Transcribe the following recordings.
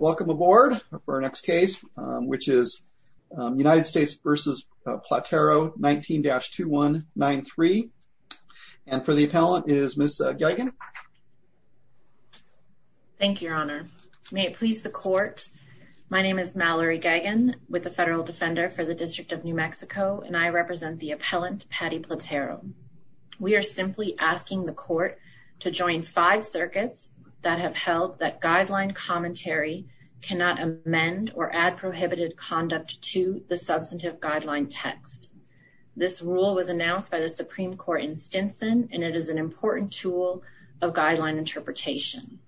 Welcome aboard for our next case, which is United States v. Platero 19-2193. And for the appellant is Ms. Gagin. Thank you, Your Honor. May it please the Court, my name is Mallory Gagin with the Federal Defender for the District of New Mexico, and I represent the appellant, Patty Platero. We are simply asking the Court to join five circuits that have held that guideline commentary cannot amend or add prohibited conduct to the substantive guideline text. This rule was announced by the Supreme Court in Stinson, and it is an important tool of guideline interpretation.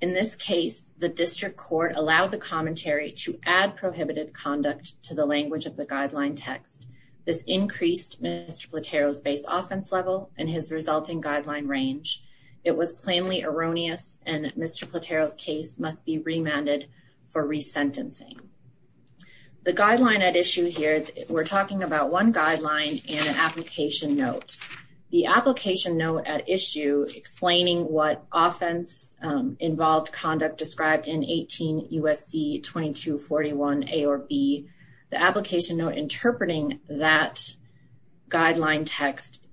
In this case, the District Court allowed the commentary to add prohibited conduct to the language of the guideline text. This increased Mr. Platero's base offense level and his resulting guideline range. It was plainly erroneous, and Mr. Platero's case must be remanded for resentencing. The guideline at issue here, we're talking about one guideline and an application note. The application note at issue explaining what offense-involved conduct described in 18 U.S.C. 2241 A or B, the application note interpreting that guideline text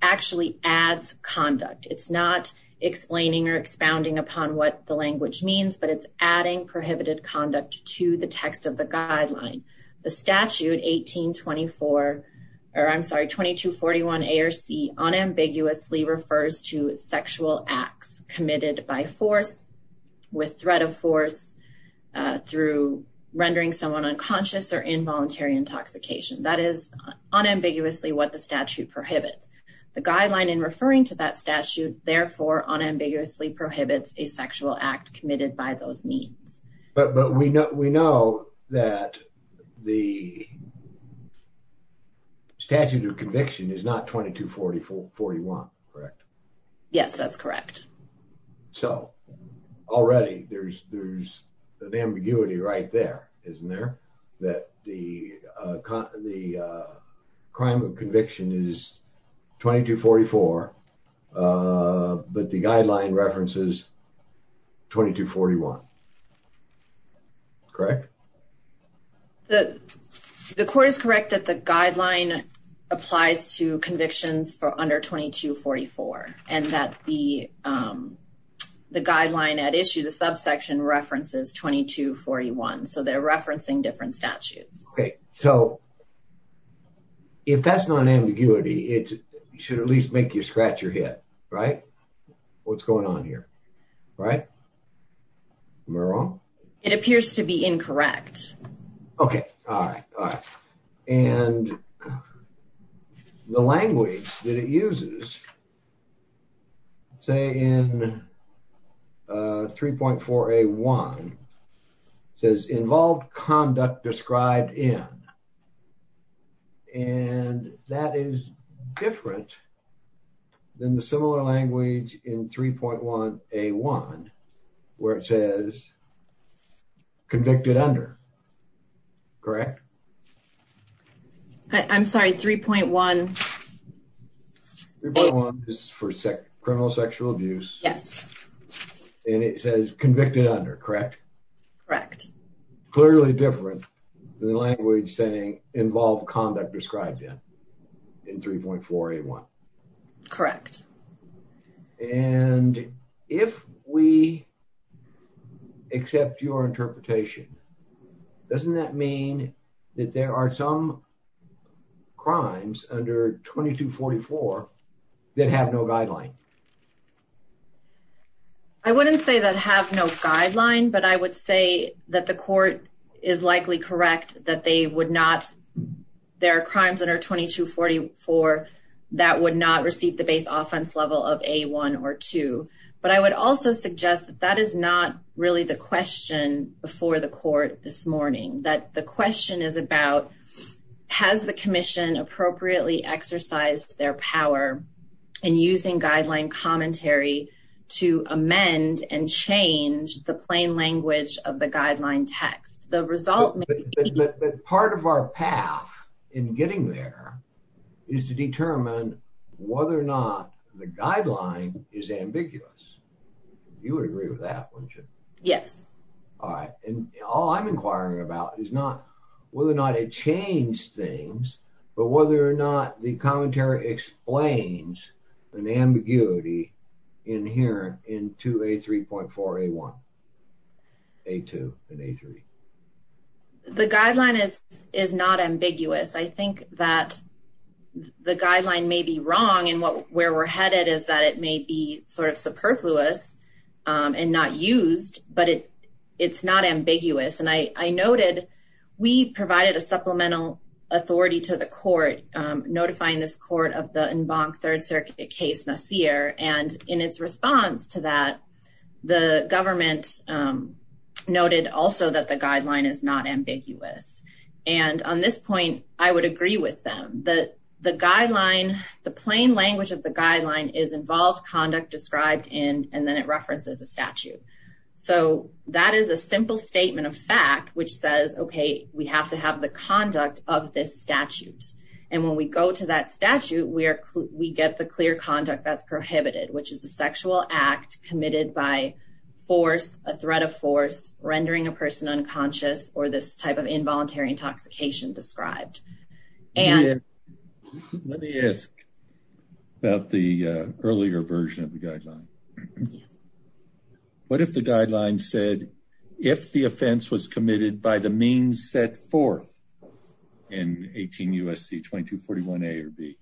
actually adds conduct. It's not explaining or expounding upon what the language means, but it's adding prohibited conduct to the text of the guideline. The statute 1824, or I'm sorry, 2241 A or C, unambiguously refers to sexual acts committed by force, with threat of force, through rendering someone unconscious or involuntary intoxication. That is unambiguously what the statute prohibits. The guideline in referring to that statute, therefore, unambiguously prohibits a sexual act committed by those means. But we know that the statute of conviction is not 2241, correct? Yes, that's correct. So, already there's an ambiguity right there, isn't there, that the crime of conviction is 2244, but the guideline references 2241, correct? The court is correct that the guideline applies to convictions for under 2244, and that the guideline at issue, the subsection, references 2241, so they're referencing different statutes. Okay, so if that's not an ambiguity, it should at least make you scratch your head, right? What's going on here, right? Am I wrong? It appears to be incorrect. Okay, all right, all right. And the language that it uses, say in 3.4A1, says involved conduct described in, and that is different than the similar language in 3.1A1, where it says convicted under, correct? I'm sorry, 3.1. 3.1 is for criminal sexual abuse. Yes. And it says convicted under, correct? Correct. Clearly different than the language saying involved conduct described in. In 3.4A1. Correct. And if we accept your interpretation, doesn't that mean that there are some crimes under 2244 that have no guideline? I wouldn't say that have no guideline, but I would say that the court is likely correct that they would not, there are crimes under 2244 that would not receive the base offense level of A1 or 2. But I would also suggest that that is not really the question before the court this morning. That the question is about, has the commission appropriately exercised their power in using guideline commentary to amend and change the plain language of the guideline text? The result may be- But part of our path in getting there is to determine whether or not the guideline is ambiguous. You would agree with that, wouldn't you? Yes. All right. And all I'm inquiring about is not whether or not it changed things, but whether or not the commentary explains an ambiguity inherent in 2A3.4A1, A2 and A3. The guideline is not ambiguous. I think that the guideline may be wrong and where we're headed is that it may be sort of superfluous and not used, but it's not ambiguous. And I noted, we provided a supplemental authority to the court, notifying this court of the Embank Third Circuit case, Nasir. And in its response to that, the government noted also that the guideline is not ambiguous. And on this point, I would agree with them that the guideline, the plain language of the guideline is involved conduct described in, and then it references a statute. So that is a simple statement of fact, which says, okay, we have to have the conduct of this statute. And when we go to that statute, we get the clear conduct that's prohibited, which is a sexual act committed by force, a threat of force, rendering a person unconscious, or this type of involuntary intoxication described. Let me ask about the earlier version of the guideline. Yes. What if the guideline said, if the offense was committed by the means set forth in 18 USC 2241A or B,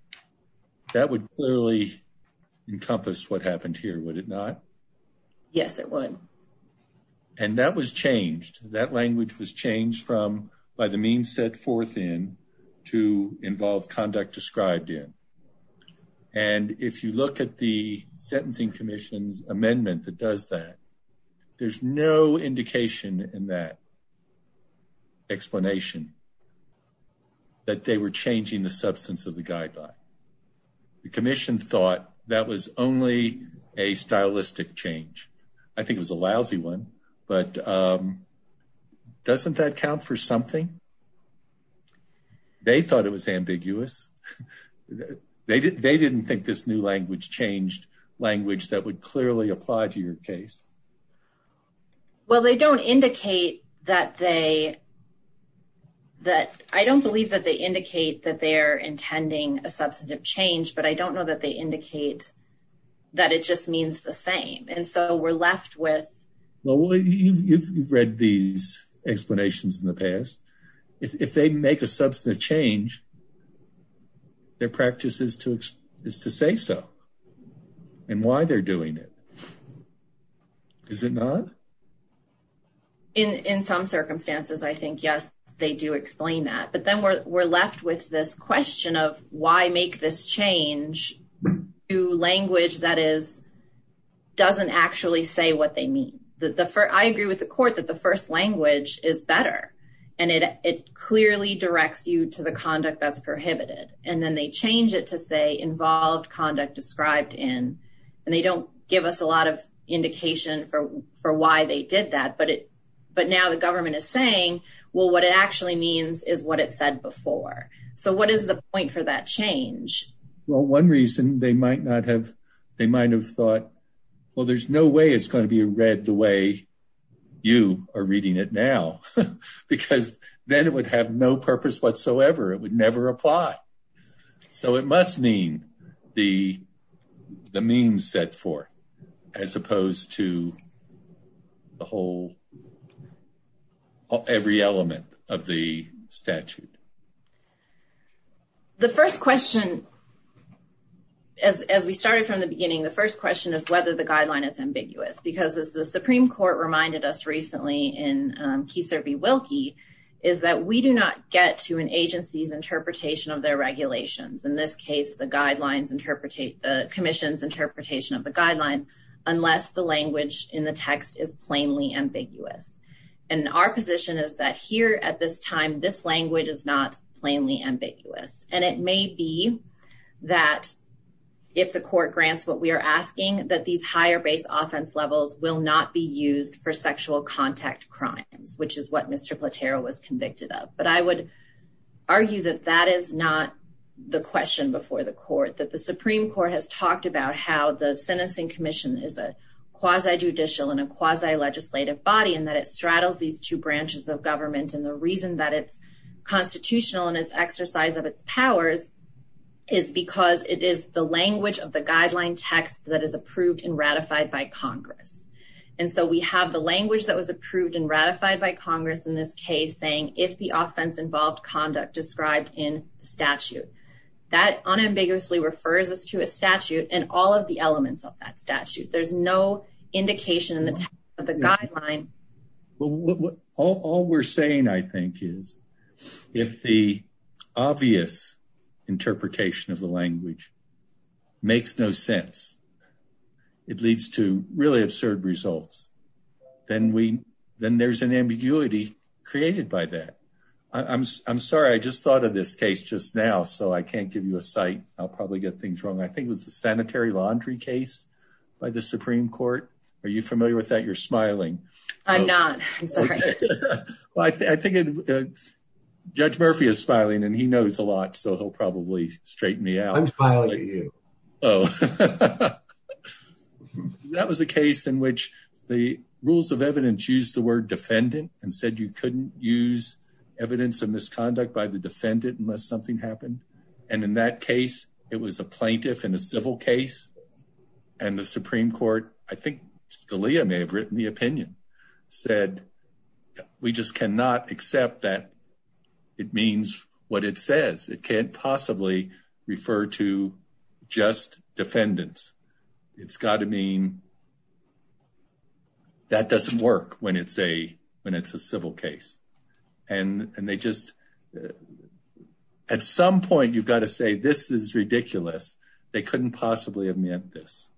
that would clearly encompass what happened here, would it not? Yes, it would. And that was changed. That language was changed from by the means set forth in to involve conduct described in. And if you look at the sentencing commission's amendment that does that, there's no indication in that explanation that they were changing the substance of the guideline. The commission thought that was only a stylistic change. I think it was a lousy one, but doesn't that count for something? They thought it was ambiguous. They didn't think this new language changed language that would clearly apply to your case. Well, I don't believe that they indicate that they're intending a substantive change, but I don't know that they indicate that it just means the same. And so we're left with... Well, you've read these explanations in the past. If they make a substantive change, their practice is to say so and why they're doing it. Is it not? In some circumstances, I think, yes, they do explain that. But then we're left with this question of why make this change to language that doesn't actually say what they mean. I agree with the court that the first language is better and it clearly directs you to the conduct that's prohibited. And then they change it to say involved conduct described in, and they don't give us a lot of indication for why they did that. But now the government is saying, well, what it actually means is what it said before. So what is the point for that change? Well, one reason they might not have... Well, there's no way it's going to be read the way you are reading it now, because then it would have no purpose whatsoever. It would never apply. So it must mean the means set forth as opposed to the whole, every element of the statute. The first question, as we started from the beginning, the first question is whether the guideline is ambiguous. Because as the Supreme Court reminded us recently in Keiser v. Wilkie, is that we do not get to an agency's interpretation of their regulations. In this case, the guidelines interpretate the commission's interpretation of the guidelines, unless the language in the text is plainly ambiguous. And our position is that here at this time, this language is not plainly ambiguous. And it may be that if the court grants what we are asking, that these higher base offense levels will not be used for sexual contact crimes, which is what Mr. Platero was convicted of. But I would argue that that is not the question before the court, that the Supreme Court has talked about how the sentencing commission is a quasi-judicial and a quasi-legislative body, and that it straddles these two branches of government. And the reason that it's constitutional in its exercise of its powers is because it is the language of the guideline text that is approved and ratified by Congress. And so we have the language that was approved and ratified by Congress in this case saying, if the offense involved conduct described in the statute. That unambiguously refers us to a statute and all of the elements of that statute. There's no indication in the text of the guideline. Well, all we're saying, I think, is if the obvious interpretation of the language makes no sense, it leads to really absurd results. Then there's an ambiguity created by that. I'm sorry, I just thought of this case just now, so I can't give you a site. I'll probably get things wrong. I think it was the sanitary laundry case by the Supreme Court. Are you familiar with that? You're smiling. I'm not, I'm sorry. Well, I think Judge Murphy is smiling and he knows a lot, so he'll probably straighten me out. I'm smiling at you. Oh. That was a case in which the rules of evidence used the word defendant and said you couldn't use evidence of misconduct by the defendant unless something happened. In that case, it was a plaintiff in a civil case and the Supreme Court, I think Scalia may have written the opinion, said we just cannot accept that it means what it says. It can't possibly refer to just defendants. It's got to mean that doesn't work when it's a civil case. And they just, at some point, you've got to say this is ridiculous. They couldn't possibly have meant this.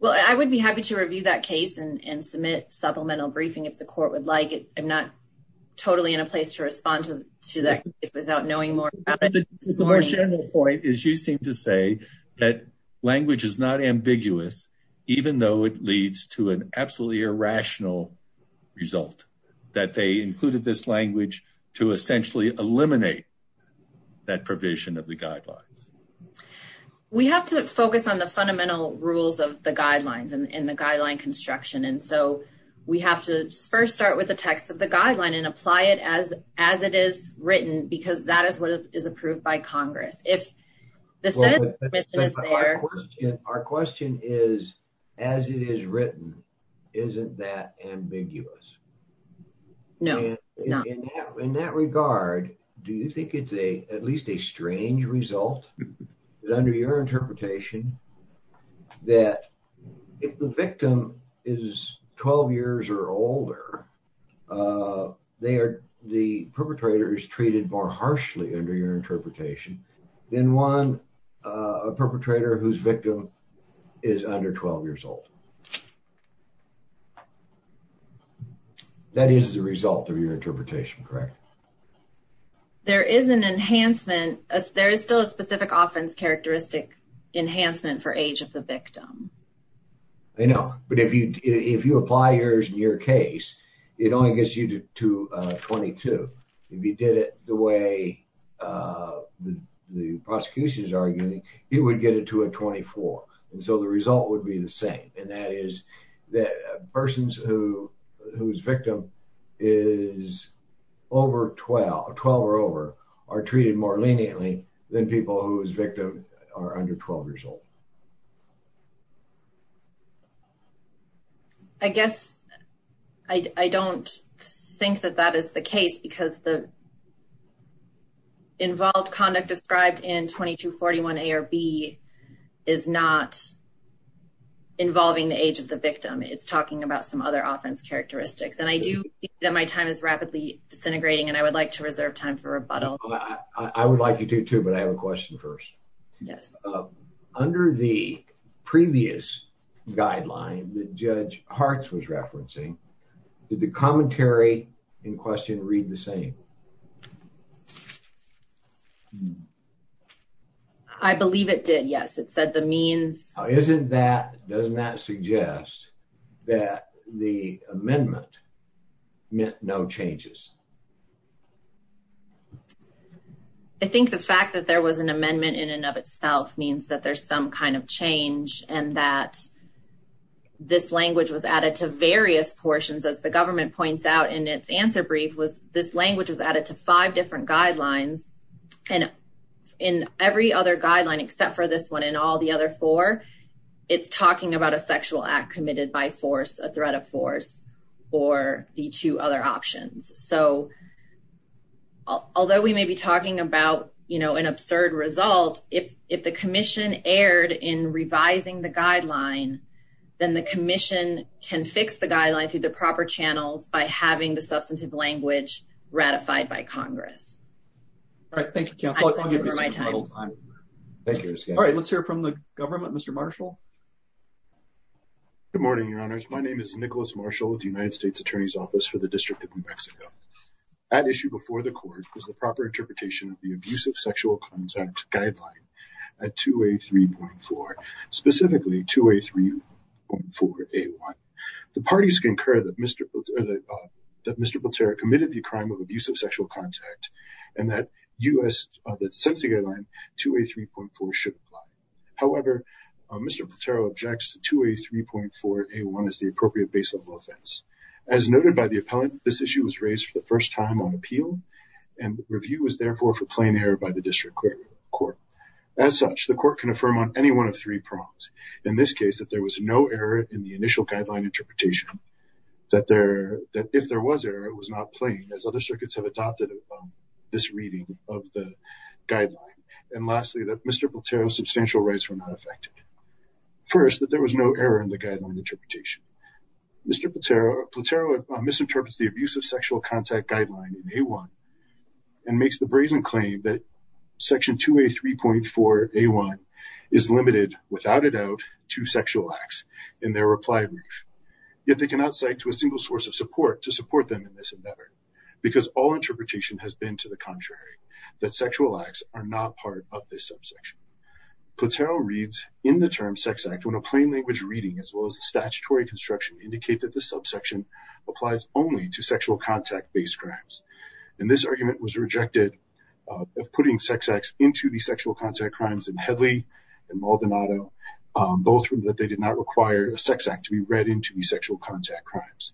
Well, I would be happy to review that case and submit supplemental briefing if the court would like it. I'm not totally in a place to respond to that case without knowing more about it. The more general point is you seem to say that language is not ambiguous, even though it leads to an absolutely irrational result, that they included this language to essentially eliminate that provision of the guidelines. We have to focus on the fundamental rules of the guidelines and the guideline construction. And so we have to first start with the text of the guideline and apply it as it is written because that is what is approved by Congress. The sentence is there. Our question is, as it is written, isn't that ambiguous? No, it's not. In that regard, do you think it's at least a strange result that under your interpretation that if the victim is 12 years or older, the perpetrator is treated more harshly under your interpretation than one perpetrator whose victim is under 12 years old? That is the result of your interpretation, correct? There is an enhancement. There is still a specific offense characteristic enhancement for age of the victim. I know. But if you apply yours in your case, it only gets you to 22. If you did it the way the prosecution is arguing, you would get it to a 24. And so the result would be the same. And that is that persons whose victim is over 12, 12 or over, are treated more leniently than people whose victim are under 12 years old. I guess I don't think that that is the case because the involved conduct described in 2241 A or B is not involving the age of the victim. It's talking about some other offense characteristics. And I do think that my time is rapidly disintegrating, and I would like to reserve time for rebuttal. I would like you to, too, but I have a question first. Yes. Under the previous guideline that Judge Hartz was referencing, did the commentary in question read the same? I believe it did. Yes, it said the means... Doesn't that suggest that the amendment meant no changes? I think the fact that there was an amendment in and of itself means that there's some kind of change and that this language was added to various portions. As the government points out in its answer brief, this language was added to five different guidelines. And in every other guideline, except for this one and all the other four, it's talking about a sexual act committed by force, a threat of force, or the two other options. So, although we may be talking about an absurd result, if the commission erred in revising the guideline, then the commission can fix the guideline through the proper channels by having the substantive language ratified by Congress. All right. Thank you, counsel. I'll give you some more time. All right. Let's hear from the government. Mr. Marshall. Good morning, Your Honors. My name is Nicholas Marshall with the United States Attorney's Office for the District of New Mexico. At issue before the court was the proper interpretation of the abusive sexual contact guideline at 2A3.4, specifically 2A3.4A1. The parties concur that Mr. Platero committed the crime of abusive sexual contact and that since the guideline, 2A3.4 should apply. However, Mr. Platero objects to 2A3.4A1 as the appropriate base level offense. As noted by the appellant, this issue was raised for the first time on appeal and review was therefore for plain error by the district court. As such, the court can affirm on any one of three prongs. In this case, that there was no error in the initial guideline interpretation, that if there was error, it was not plain as other circuits have adopted this reading of the guideline. And lastly, that Mr. Platero's substantial rights were not affected. First, that there was no error in the guideline interpretation. Mr. Platero misinterprets the abusive sexual contact guideline in A1 and makes the brazen claim that section 2A3.4A1 is limited, without a doubt, to sexual acts in their reply brief. Yet they cannot cite to a single source of support to support them in this endeavor because all interpretation has been to the contrary, that sexual acts are not part of this subsection. Platero reads in the term sex act when a plain language reading as well as the statutory construction indicate that the subsection applies only to sexual contact-based crimes. And this argument was rejected of putting sex acts into the sexual contact crimes in Headley and Maldonado, both that they did not require a sex act to be read into the sexual contact crimes.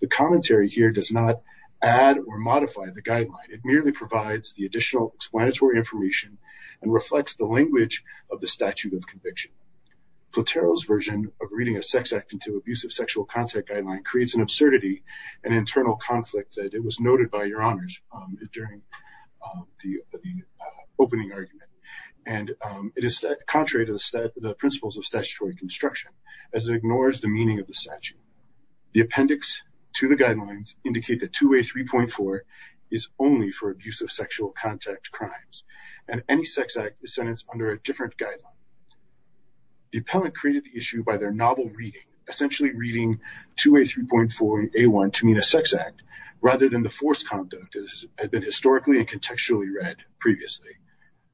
The commentary here does not add or modify the guideline. It merely provides the additional explanatory information and reflects the language of the statute of conviction. Platero's version of reading a sex act into abusive sexual contact guideline creates an absurdity and internal conflict that it was noted by your honors during the opening argument. And it is contrary to the principles of statutory construction as it ignores the meaning of the statute. The appendix to the guidelines indicate that 2A3.4 is only for abuse of sexual contact crimes and any sex act is sentenced under a different guideline. The appellant created the issue by their novel reading, essentially reading 2A3.4A1 to mean a sex act rather than the forced conduct as has been historically and contextually read previously.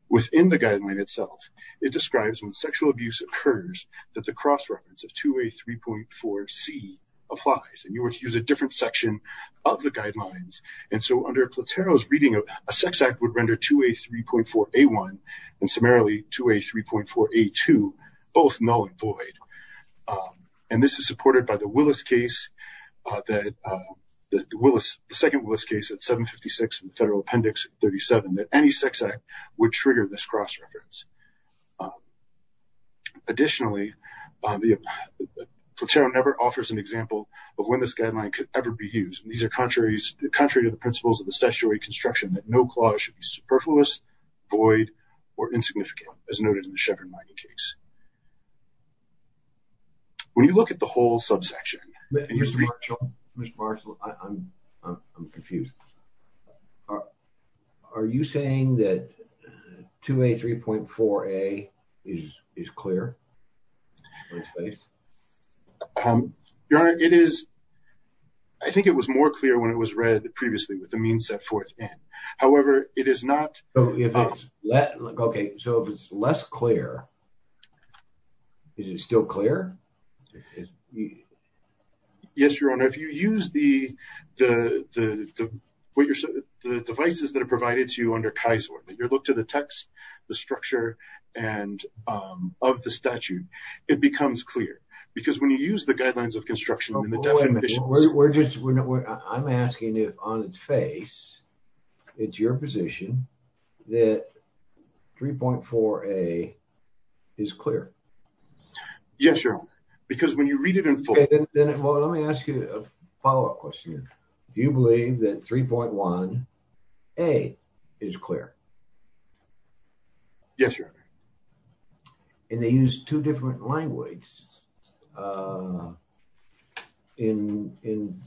Within the guideline itself, it describes when sexual abuse occurs that the cross-reference of 2A3.4C applies. And you were to use a different section of the guidelines. And so under Platero's reading, a sex act would render 2A3.4A1 and summarily 2A3.4A2 both null and void. And this is supported by the Willis case, the second Willis case at 756 in Federal Appendix 37 that any sex act would trigger this cross-reference. Additionally, Platero never offers an example of when this guideline could ever be used. And these are contrary to the principles of the statutory construction that no clause should be superfluous, void, or insignificant as noted in the Chevron-Mindy case. When you look at the whole subsection, and you read- Mr. Marshall, Mr. Marshall, I'm confused. Are you saying that 2A3.4A is clear? Your Honor, it is. I think it was more clear when it was read previously with the means set forth in. However, it is not. OK, so if it's less clear, is it still clear? Yes, Your Honor. If you use the devices that are provided to you under KISOR, that you look to the text, the structure of the statute, it becomes clear. Because when you use the guidelines of construction and the definitions- Wait a minute, I'm asking if on its face, it's your position that 3.4A is clear? Yes, Your Honor. Because when you read it in full- OK, then let me ask you a follow-up question. Do you believe that 3.1A is clear? Yes, Your Honor. And they use two different languages. Then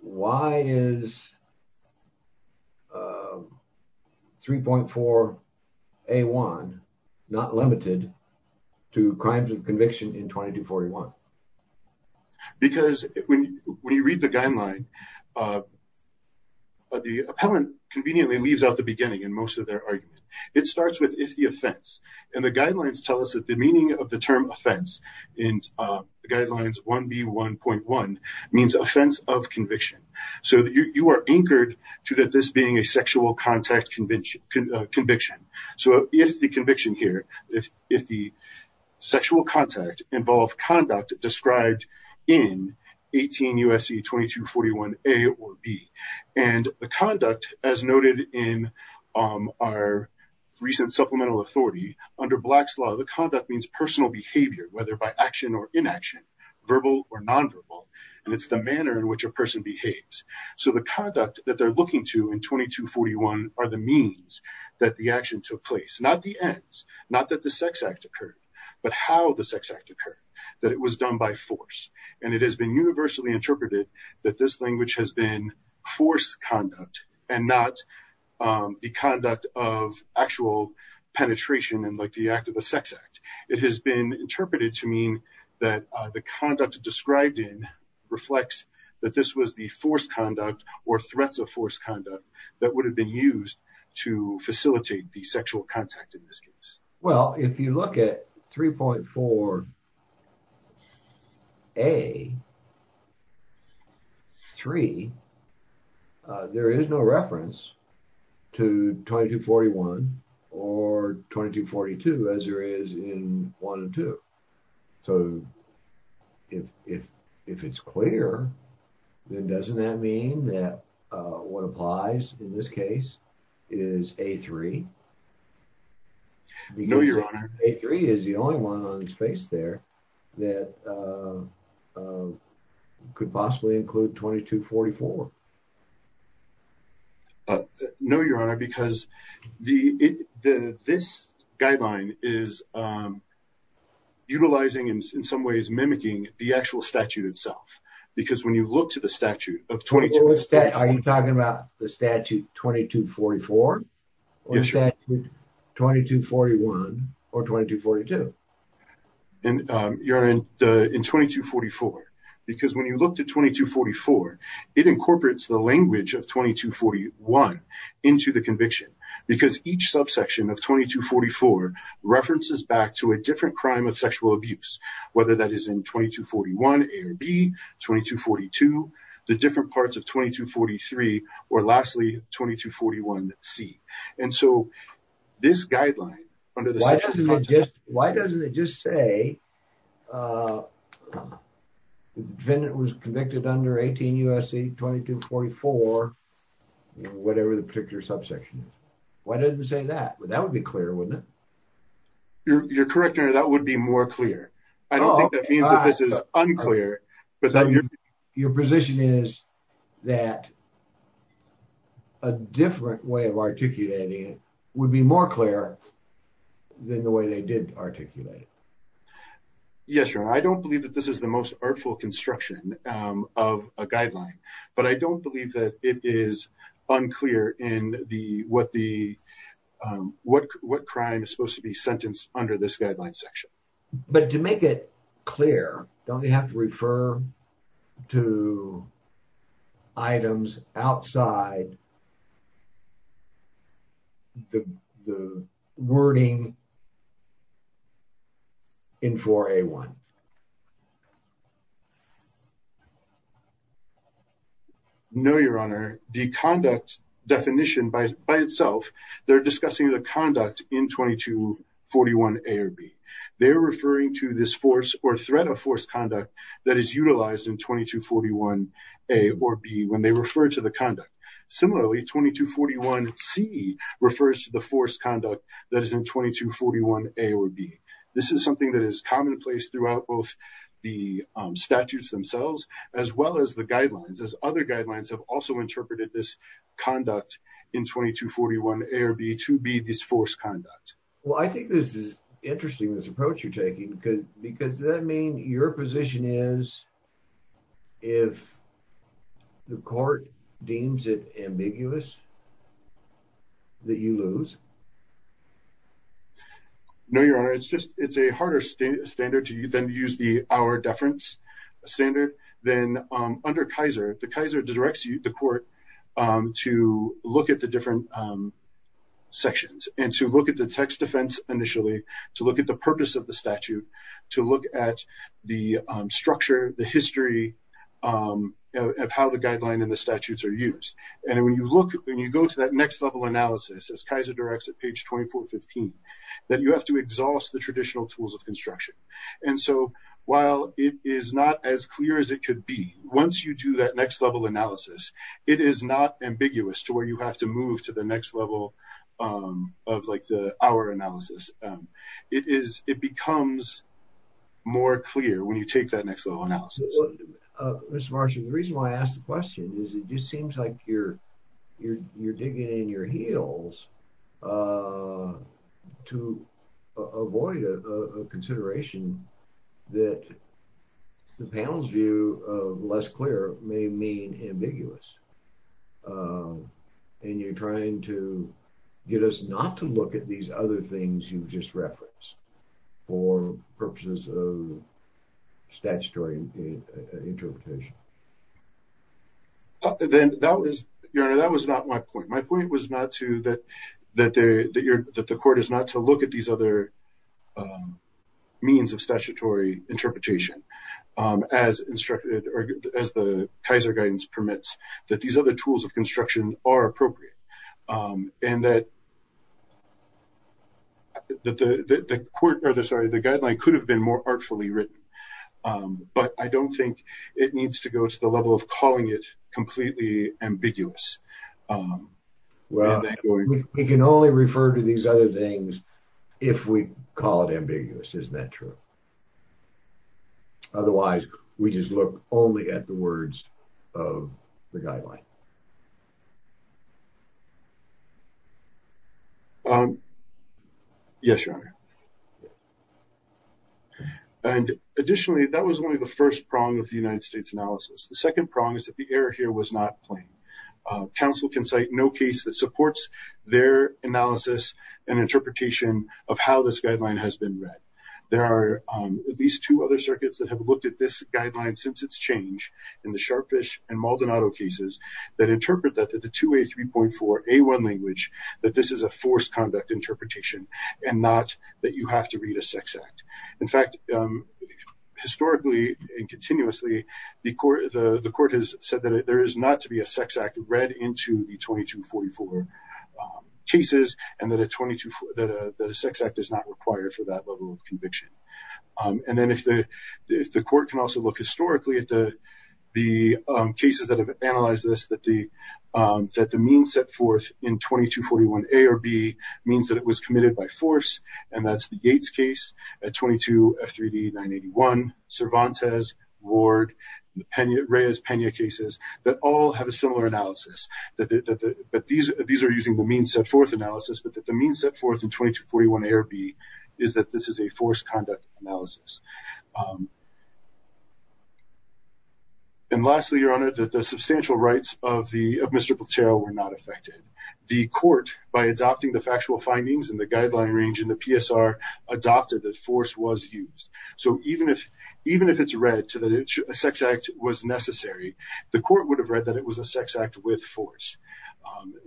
why is 3.4A1 not limited to crimes of conviction in 2241? Because when you read the guideline, the appellant conveniently leaves out the beginning in most of their argument. It starts with if the offense. And the guidelines tell us that the meaning of the term offense in guidelines 1B1.1 means offense of conviction. So you are anchored to that this being a sexual contact conviction. So if the conviction here, if the sexual contact involved conduct described in 18 U.S.C. 2241 A or B, and the conduct as noted in our recent supplemental authority, under Black's law, the conduct means personal behavior, whether by action or inaction, verbal or nonverbal. And it's the manner in which a person behaves. So the conduct that they're looking to in 2241 are the means that the action took place, not the ends, not that the sex act occurred, but how the sex act occurred, that it was done by force. And it has been universally interpreted that this language has been force conduct and not the conduct of actual penetration and like the act of a sex act. It has been interpreted to mean that the conduct described in reflects that this was the force conduct or threats of force conduct that would have been used to facilitate the sexual contact in this case. Well, if you look at 3.4 A3, there is no reference to 2241 or 2242 as there is in 1 and 2. So if it's clear, then doesn't that mean that what applies in this case is A3? No, your honor. A3 is the only one on his face there that could possibly include 2244. No, your honor, because this guideline is utilizing in some ways, mimicking the actual statute itself. Because when you look to the statute of 2244. Are you talking about the statute 2244? Or the statute 2241 or 2242? And your honor, in 2244, because when you look to 2244, it incorporates the language of 2241 into the conviction. Because each subsection of 2244 references back to a different crime of sexual abuse, whether that is in 2241 A or B, 2242, the different parts of 2243, or lastly, 2241 C. And so this guideline under the sexual contact- Why doesn't it just say the defendant was convicted under 18 U.S.C. 2244, whatever the particular subsection is? Why doesn't it say that? That would be clear, wouldn't it? You're correct, your honor. That would be more clear. I don't think that means that this is unclear. But your position is that a different way of articulating would be more clear than the way they did articulate it. Yes, your honor. I don't believe that this is the most artful construction of a guideline. But I don't believe that it is unclear in what crime is supposed to be sentenced under this guideline section. But to make it clear, don't they have to refer to items outside the wording in 4A1? No, your honor. The conduct definition by itself, they're discussing the conduct in 2241 A or B. They're referring to this force or threat of force conduct that is utilized in 2241 A or B when they refer to the conduct. Similarly, 2241 C refers to the force conduct that is in 2241 A or B. This is something that is commonplace throughout both the statutes themselves as well as the guidelines, as other guidelines have also interpreted this conduct in 2241 A or B to be this force conduct. Well, I think this is interesting, this approach you're taking, because does that mean your position is if the court deems it ambiguous that you lose? No, your honor. It's a harder standard to use than to use the hour deference standard. Then under Kaiser, the Kaiser directs you, the court, to look at the different sections and to look at the text defense initially, to look at the purpose of the statute, to look at the structure, the history of how the guideline and the statutes are used. And when you look, when you go to that next level analysis, as Kaiser directs at page 2415, that you have to exhaust the traditional tools of construction. And so while it is not as clear as it could be, once you do that next level analysis, it is not ambiguous to where you have to move to the next level of like the hour analysis. It becomes more clear when you take that next level analysis. Mr. Marshall, the reason why I asked the question is it just seems like you're digging in your heels to avoid a consideration that the panel's view of less clear may mean ambiguous. And you're trying to get us not to look at these other things you've just referenced for purposes of statutory interpretation. Then that was, Your Honor, that was not my point. My point was not to, that the court is not to look at these other means of statutory interpretation as instructed, as the Kaiser guidance permits that these other tools of construction are appropriate. And that the court, or the, sorry, the guideline could have been more artfully written. But I don't think it needs to go to the level of calling it completely ambiguous. Well, we can only refer to these other things if we call it ambiguous, isn't that true? Otherwise, we just look only at the words of the guideline. Yes, Your Honor. And additionally, that was one of the first prongs of the United States analysis. The second prong is that the error here was not plain. Counsel can cite no case that supports their analysis and interpretation of how this guideline has been read. There are at least two other circuits that have looked at this guideline since its change in the Sharfish and Maldonado cases that interpret that the 2A3.4A1 language, that this is a forced conduct interpretation and not that you have to read a sex act. In fact, historically and continuously, the court has said that there is not to be a sex act read into the 2244 cases and that a sex act is not required for that level of conviction. And then if the court can also look historically at the cases that have analyzed this, that the means set forth in 2241A or B means that it was committed by force. And that's the Yates case, 22F3D981, Cervantes, Ward, Reyes-Pena cases that all have a similar analysis, but these are using the means set forth analysis. But that the means set forth in 2241A or B is that this is a forced conduct analysis. And lastly, Your Honor, that the substantial rights of Mr. Platero were not affected. The court, by adopting the factual findings in the guideline range in the PSR, adopted that force was used. So even if it's read to that a sex act was necessary, the court would have read that it was a sex act with force.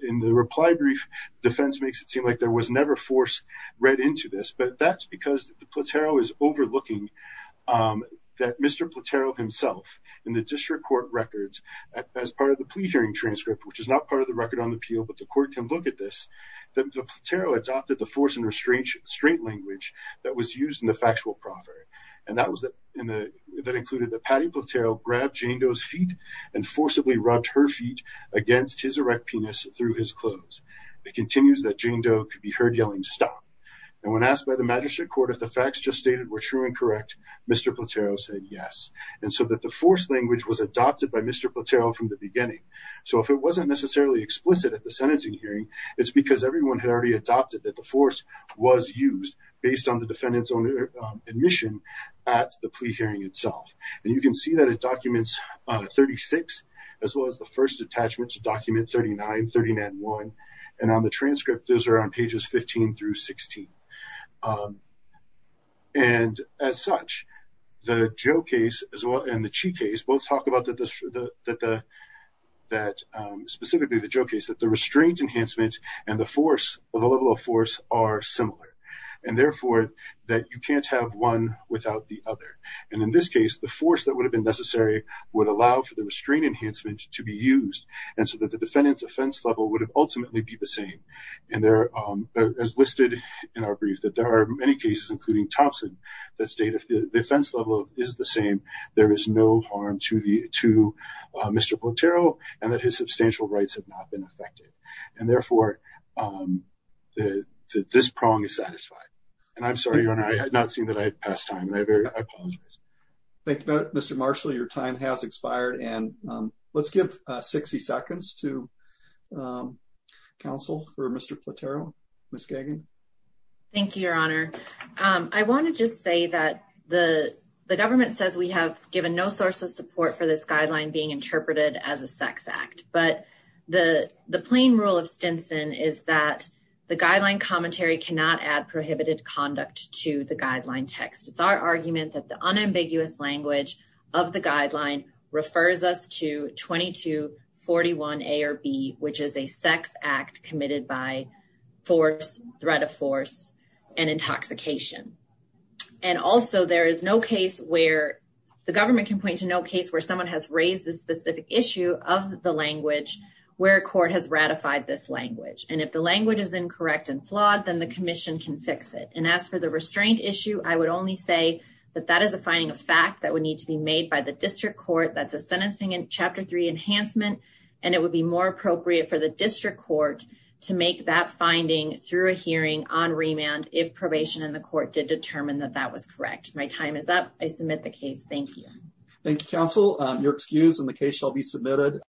In the reply brief, defense makes it seem like there was never force read into this, but that's because the Platero is overlooking that Mr. Platero himself, in the district court records, as part of the plea hearing transcript, which is not part of the record on the appeal, but the court can look at this, that Platero adopted the force and restraint language that was used in the factual proffer. And that included that Patty Platero grabbed Jane Doe's feet and forcibly rubbed her feet against his erect penis through his clothes. It continues that Jane Doe could be heard yelling stop. And when asked by the magistrate court if the facts just stated were true and correct, Mr. Platero said yes. And so that the force language was adopted by Mr. Platero from the beginning. So if it wasn't necessarily explicit at the sentencing hearing, it's because everyone had already adopted that the force was used based on the defendant's own admission at the plea hearing itself. And you can see that it documents 36, as well as the first attachment to document 39, 39-1. And on the transcript, those are on pages 15 through 16. And as such, the Joe case as well, and the Chi case, both talk about that, that specifically the Joe case, that the restraint enhancement and the force, or the level of force are similar. And therefore, that you can't have one without the other. And in this case, the force that would have been necessary would allow for the restraint enhancement to be used. And so that the defendant's offense level would ultimately be the same. And there, as listed in our brief, that there are many cases, including Thompson, that state if the offense level is the same, there is no harm to Mr. Platero, and that his substantial rights have not been affected. And therefore, this prong is satisfied. And I'm sorry, Your Honor, I had not seen that I had passed time. And I apologize. Thank you, Mr. Marshall. Your time has expired. And let's give 60 seconds to counsel for Mr. Platero. Ms. Gagin. Thank you, Your Honor. I want to just say that the government says we have given no source of support for this guideline being interpreted as a sex act. But the plain rule of Stinson is that the guideline commentary cannot add prohibited conduct to the guideline text. It's our argument that the unambiguous language of the guideline refers us to 2241A or B, which is a sex act committed by force, threat of force, and intoxication. And also, there is no case where the government can point to no case where someone has raised this specific issue of the language where a court has ratified this language. And if the language is incorrect and flawed, then the commission can fix it. And as for the restraint issue, I would only say that that is a finding of fact that would need to be made by the district court. That's a sentencing in Chapter 3 enhancement. And it would be more appropriate for the district court to make that finding through a hearing on remand if probation in the court did determine that that was correct. My time is up. I submit the case. Thank you. Thank you, counsel. You're excused and the case shall be submitted.